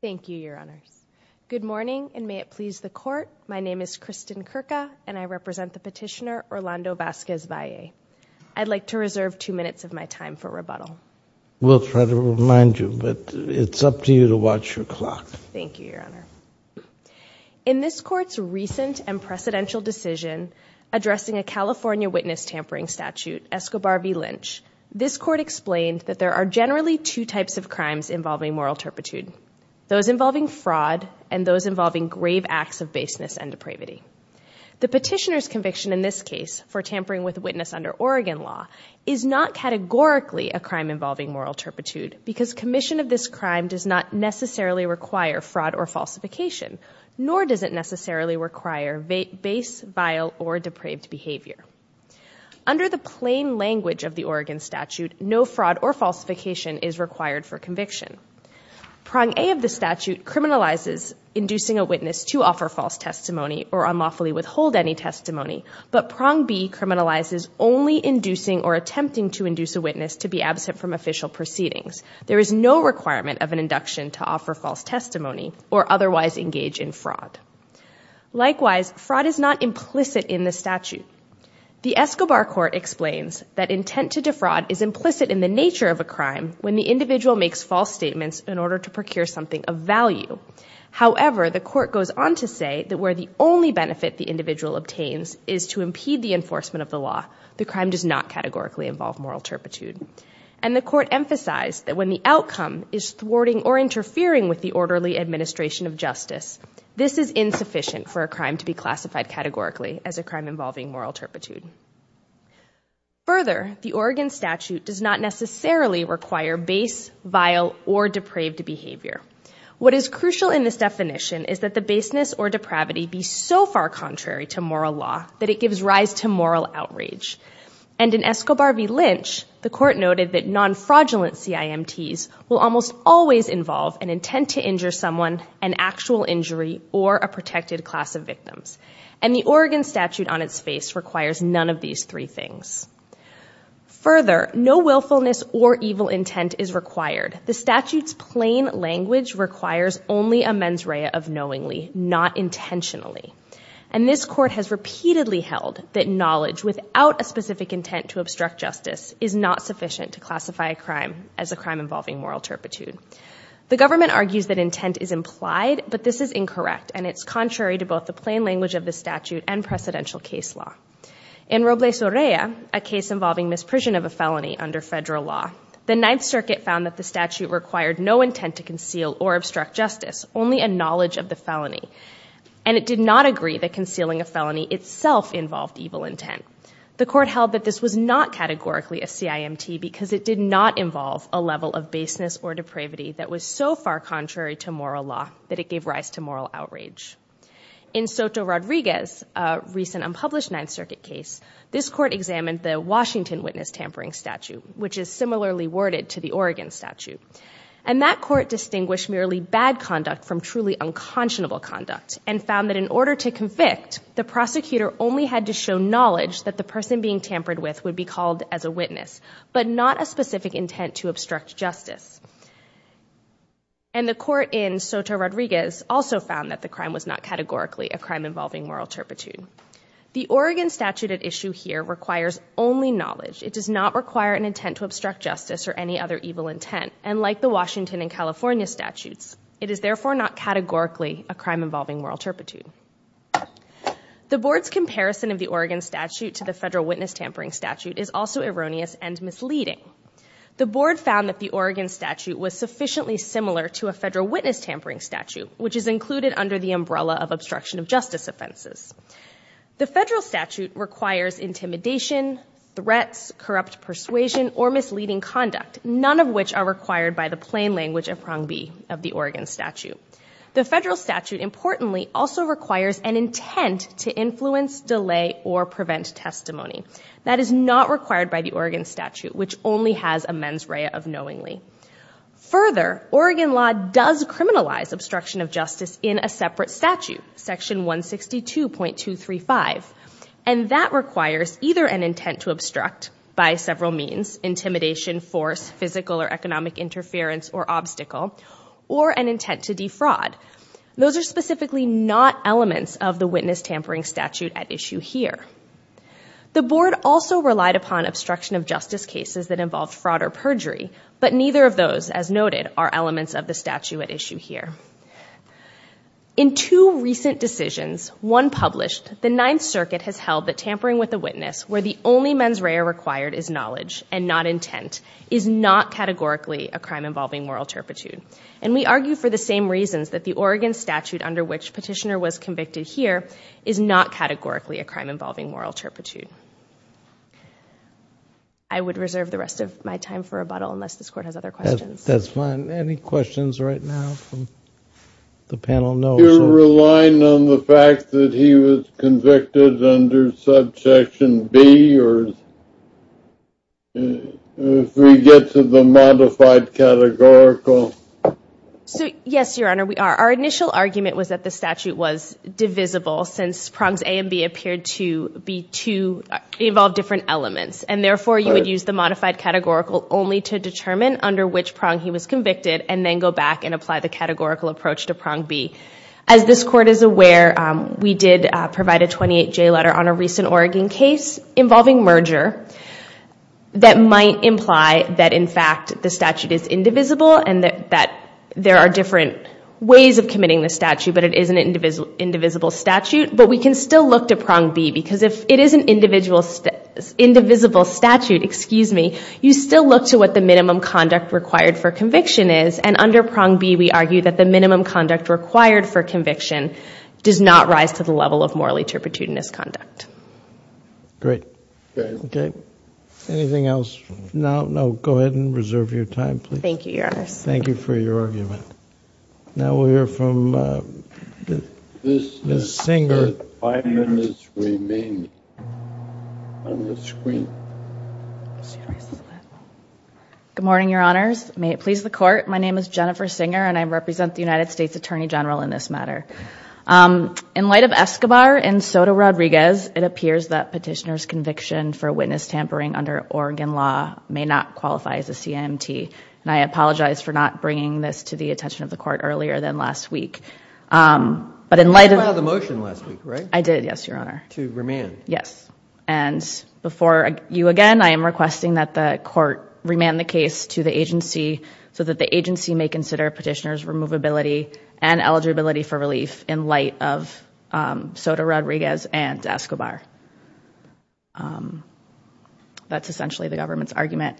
Thank you, Your Honors. Good morning, and may it please the Court, my name is Kristen Kirka, and I represent the petitioner, Orlando Vasquez-Valle. I'd like to reserve two minutes of my time for rebuttal. We'll try to remind you, but it's up to you to watch your clock. Thank you, Your Honor. In this Court's recent and precedential decision addressing a California witness tampering statute, Escobar v. Vasquez-Valle, there are two types of crimes involving moral turpitude, those involving fraud and those involving grave acts of baseness and depravity. The petitioner's conviction in this case for tampering with a witness under Oregon law is not categorically a crime involving moral turpitude because commission of this crime does not necessarily require fraud or falsification, nor does it necessarily require base, vile, or depraved behavior. Under the plain language of the Oregon statute, no fraud or falsification is required for conviction. Prong A of the statute criminalizes inducing a witness to offer false testimony or unlawfully withhold any testimony, but prong B criminalizes only inducing or attempting to induce a witness to be absent from official proceedings. There is no requirement of an induction to offer false testimony or otherwise engage in fraud. Likewise, fraud is not implicit in the statute. The Escobar Court explains that intent to defraud is implicit in the nature of a crime when the individual makes false statements in order to procure something of value. However, the Court goes on to say that where the only benefit the individual obtains is to impede the enforcement of the law, the crime does not categorically involve moral turpitude. And the Court emphasized that when the outcome is thwarting or interfering with the orderly administration of justice, this is insufficient for a crime to be classified categorically as a crime involving moral turpitude. Further, the Oregon statute does not necessarily require base, vile, or depraved behavior. What is crucial in this definition is that the baseness or depravity be so far contrary to moral law that it should not be used as an excuse for fraud. The Court noted that non-fraudulent CIMTs will almost always involve an intent to injure someone, an actual injury, or a protected class of victims. And the Oregon statute on its face requires none of these three things. Further, no willfulness or evil intent is required. The statute's plain language requires only a mens rea of knowingly, not intentionally. And this is not sufficient to classify a crime as a crime involving moral turpitude. The government argues that intent is implied, but this is incorrect, and it's contrary to both the plain language of the statute and precedential case law. In Robles-Orea, a case involving misprision of a felony under federal law, the Ninth Circuit found that the statute required no intent to conceal or obstruct justice, only a knowledge of the person being tampered with would be called as a witness, but not the person being tampered with. In Soto-Rodriguez, a recent unpublished Ninth Circuit case, this court examined the Washington witness tampering statute, which is similarly worded to the Oregon statute. And that court distinguished merely bad conduct from truly unconscionable conduct, and found that in order to convict, the prosecutor only had to identify the perpetrator, not a specific intent to obstruct justice. And the court in Soto-Rodriguez also found that the crime was not categorically a crime involving moral turpitude. The Oregon statute at issue here requires only knowledge. It does not require an intent to obstruct justice or any other evil intent. And like the Washington and California statutes, it is therefore not categorically a crime involving moral turpitude. The board's comparison of the Oregon statute to the federal witness tampering statute is also erroneous and misleading. The board found that the Oregon statute was sufficiently similar to a federal witness tampering statute, which is included under the umbrella of obstruction of justice offenses. The federal statute requires intimidation, threats, corrupt persuasion, or misleading conduct, none of which are categorically a crime involving moral turpitude. It also requires an intent to influence, delay, or prevent testimony. That is not required by the Oregon statute, which only has a mens rea of knowingly. Further, Oregon law does criminalize obstruction of justice in a separate statute, section 162.235. And that requires either an intent to obstruct by several means, intimidation, force, physical or obstacle, or an intent to defraud. Those are specifically not elements of the witness tampering statute at issue here. The board also relied upon obstruction of justice cases that involved fraud or perjury, but neither of those, as noted, are elements of the statute at issue here. In two recent decisions, one published, the Ninth Circuit has held that tampering with a witness where the only mens rea required is knowledge and not intent is not categorically a crime involving moral turpitude. And we argue for the same reasons that the Oregon statute under which Petitioner was convicted here is not categorically a crime involving moral turpitude. I would reserve the rest of my time for rebuttal unless this court has other questions. That's fine. Any questions right now from the panel? You're relying on the fact that he was convicted under subsection B, or if we get to the modified categorical? Yes, Your Honor, we are. Our initial argument was that the statute was divisible since prongs A and B appeared to be two, involved different elements. And therefore, you would use the modified categorical only to determine under which categorical approach to prong B. As this court is aware, we did provide a 28-J letter on a recent Oregon case involving merger that might imply that, in fact, the statute is indivisible and that there are different ways of committing the statute, but it is an indivisible statute. But we can still look to prong B because if it is an indivisible statute, you still look to what the minimum conduct required for conviction does not rise to the level of morally turpitudinous conduct. Great. Okay. Anything else? No? No. Go ahead and reserve your time, please. Thank you, Your Honor. Thank you for your argument. Now we'll hear from Ms. Singer. Five minutes remain on the screen. Good morning, Your Honors. May it please the Court? My name is Jennifer Singer, and I represent the United States Attorney General in this matter. In light of Escobar and Soto-Rodriguez, it appears that petitioner's conviction for witness tampering under Oregon law may not qualify as a CIMT. And I apologize for not bringing this to the attention of the Court earlier than last week. But in light of You did file the motion last week, right? I did, yes, Your Honor. To remand. Yes. And before you again, I am requesting that the Court remand the case to the and eligibility for relief in light of Soto-Rodriguez and Escobar. That's essentially the government's argument.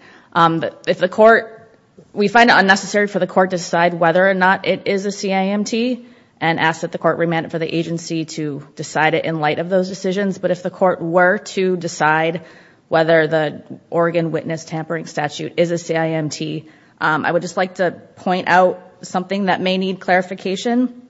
We find it unnecessary for the Court to decide whether or not it is a CIMT and ask that the Court remand it for the agency to decide it in light of those decisions. But if the Court were to decide whether the Oregon witness tampering statute is a CIMT, I would just like to point out something that may need clarification.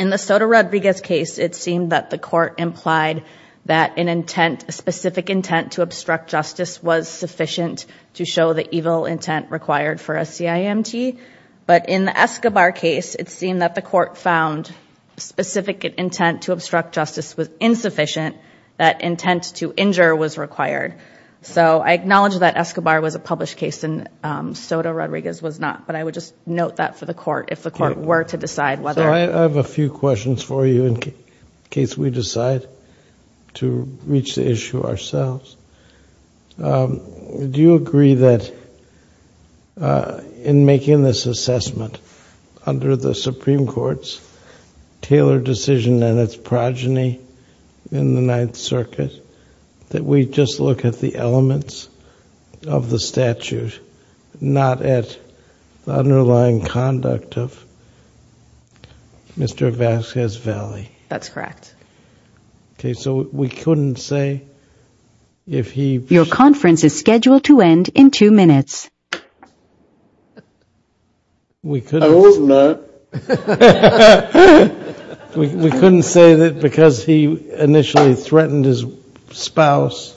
In the Soto-Rodriguez case, it seemed that the Court implied that an intent, a specific intent to obstruct justice was sufficient to show the evil intent required for a CIMT. But in the Escobar case, it seemed that the Court found specific intent to obstruct justice was insufficient, that intent to injure was required. So I acknowledge that Escobar was a published case and Soto-Rodriguez was not. But I would just note that for the Court, if the Court were to decide whether. So I have a few questions for you in case we decide to reach the issue ourselves. Do you agree that in making this assessment under the Supreme Court's tailored decision and its progeny in the Ninth Circuit, that we just look at the underlying conduct of Mr. Vasquez Valley? That's correct. Okay, so we couldn't say if he. Your conference is scheduled to end in two minutes. I hope not. We couldn't say that because he initially threatened his spouse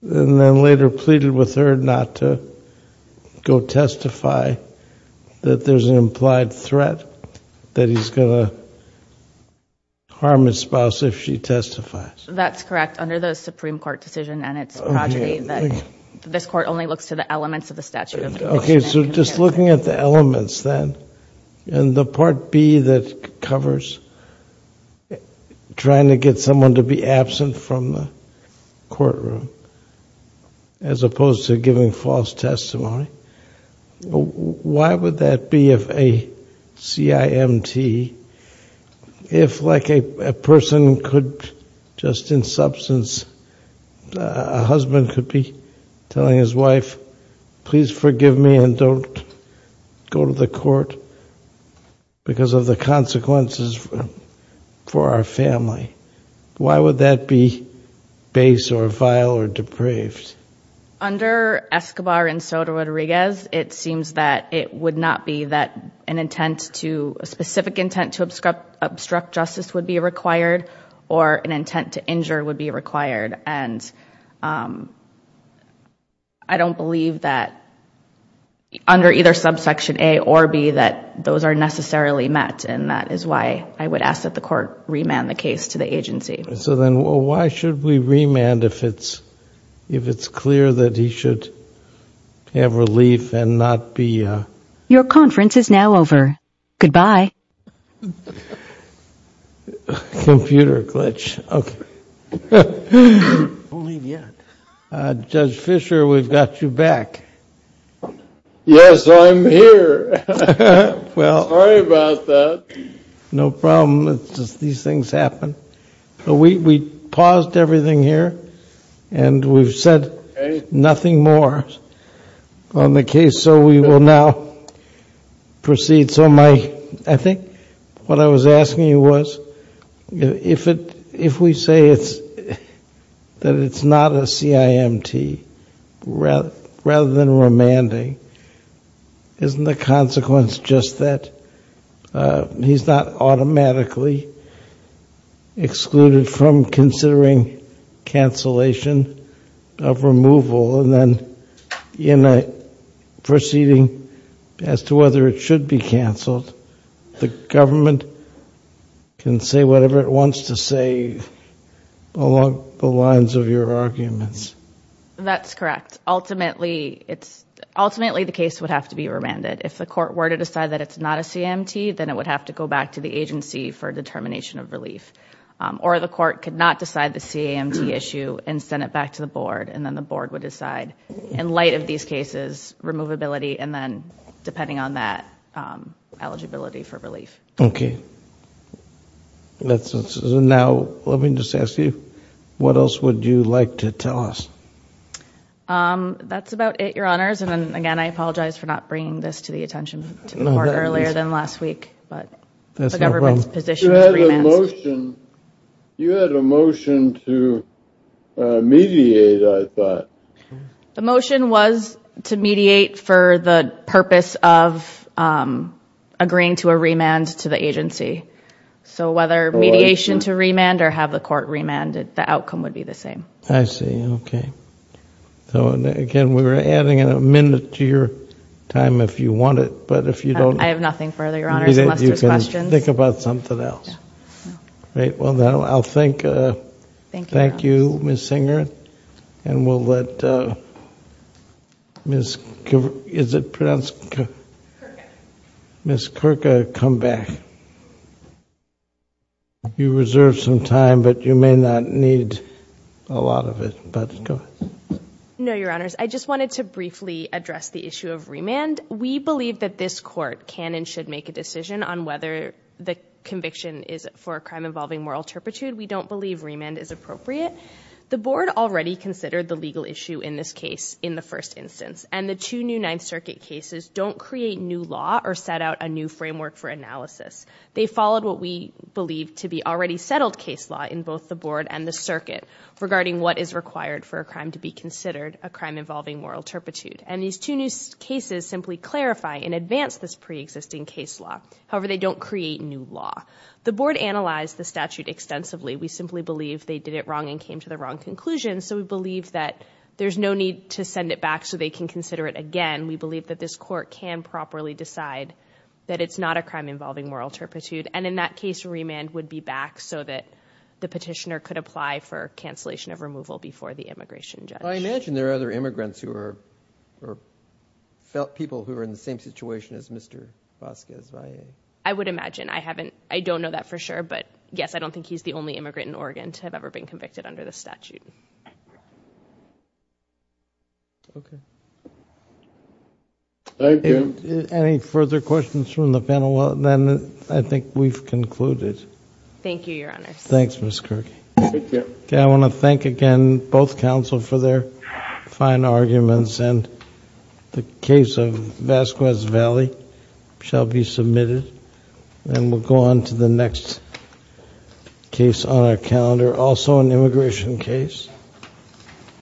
and then later pleaded with her not to go testify that there's an implied threat that he's going to harm his spouse if she testifies. That's correct. Under the Supreme Court decision and its progeny, this Court only looks to the elements of the statute. Okay, so just looking at the elements then and the Part B that covers trying to get someone to be absent from the courtroom as opposed to giving false testimony. Why would that be of a CIMT if like a person could just in substance, a husband could be telling his wife, please forgive me and don't go to the Court because of the consequences for our family? Why would that be base or vile or depraved? Under Escobar and Sotomayor, it seems that it would not be that an intent to, a specific intent to obstruct justice would be required or an intent to injure would be required. And I don't believe that under either subsection A or B that those are necessarily met and that is why I would ask that the Court remand the case to the agency. So then why should we remand if it's clear that he should have relief and not be... Your conference is now over. Goodbye. Computer glitch. Judge Fischer, we've got you back. Yes, I'm here. Sorry about that. No problem. These things happen. We paused everything here and we've said nothing more on the case, so we will now proceed. So my, I think what I was asking you was, if we say that it's not a CIMT rather than remanding, isn't the consequence just that he's not a CIMT? He's not automatically excluded from considering cancellation of removal and then proceeding as to whether it should be canceled. The government can say whatever it wants to say along the lines of your arguments. That's correct. Ultimately, the case would have to be remanded. If the Court were to decide that it's not a CIMT, then it would have to go back to the agency for determination of relief. Or the Court could not decide the CIMT issue and send it back to the Board and then the Board would decide. In light of these cases, removability and then, depending on that, eligibility for relief. Okay. Now, let me just ask you, what else would you like to tell us? That's about it, Your Honors. And again, I apologize for not bringing this to the attention of the Court earlier than last week. That's no problem. You had a motion to mediate, I thought. The motion was to mediate for the purpose of agreeing to a remand to the agency. So whether mediation to remand or have the Court remand, the outcome would be the same. I see. Okay. Again, we're adding a minute to your time if you want it, but if you don't... I have nothing further, Your Honors. You can think about something else. Thank you, Ms. Singer. And we'll let Ms. Kurka come back. You reserved some time, but you may not need a lot of it. No, Your Honors. I just wanted to briefly address the issue of remand. We believe that this Court can and should make a decision on whether the conviction is for a crime involving moral turpitude. We don't believe remand is appropriate. The Board already considered the legal issue in this case in the first instance, and the two new Ninth Circuit cases don't create new law or set out a new framework for analysis. They followed what we believe to be already settled case law in both the Board and the Circuit regarding what is required for a crime to be considered, a crime involving moral turpitude. And these two new cases simply clarify and advance this preexisting case law. However, they don't create new law. The Board analyzed the statute extensively. We simply believe they did it wrong and came to the wrong conclusion, so we believe that there's no need to send it back so they can consider it again. We believe that this Court can properly decide that it's not a crime involving moral turpitude, and in that case, remand would be back so that the petitioner could apply for cancellation of removal before the immigration judge. I imagine there are other immigrants or people who are in the same situation as Mr. Vasquez-Valle. I would imagine. I don't know that for sure, but yes, I don't think he's the only immigrant in Oregon to have ever been convicted under the statute. Okay. Thank you. Any further questions from the panel? Well, then I think we've concluded. Thank you, Your Honors. Thanks, Ms. Kirk. I want to thank again both counsel for their fine arguments, and the case of Vasquez-Valle shall be submitted, and we'll go on to the next case on our calendar, also an immigration case.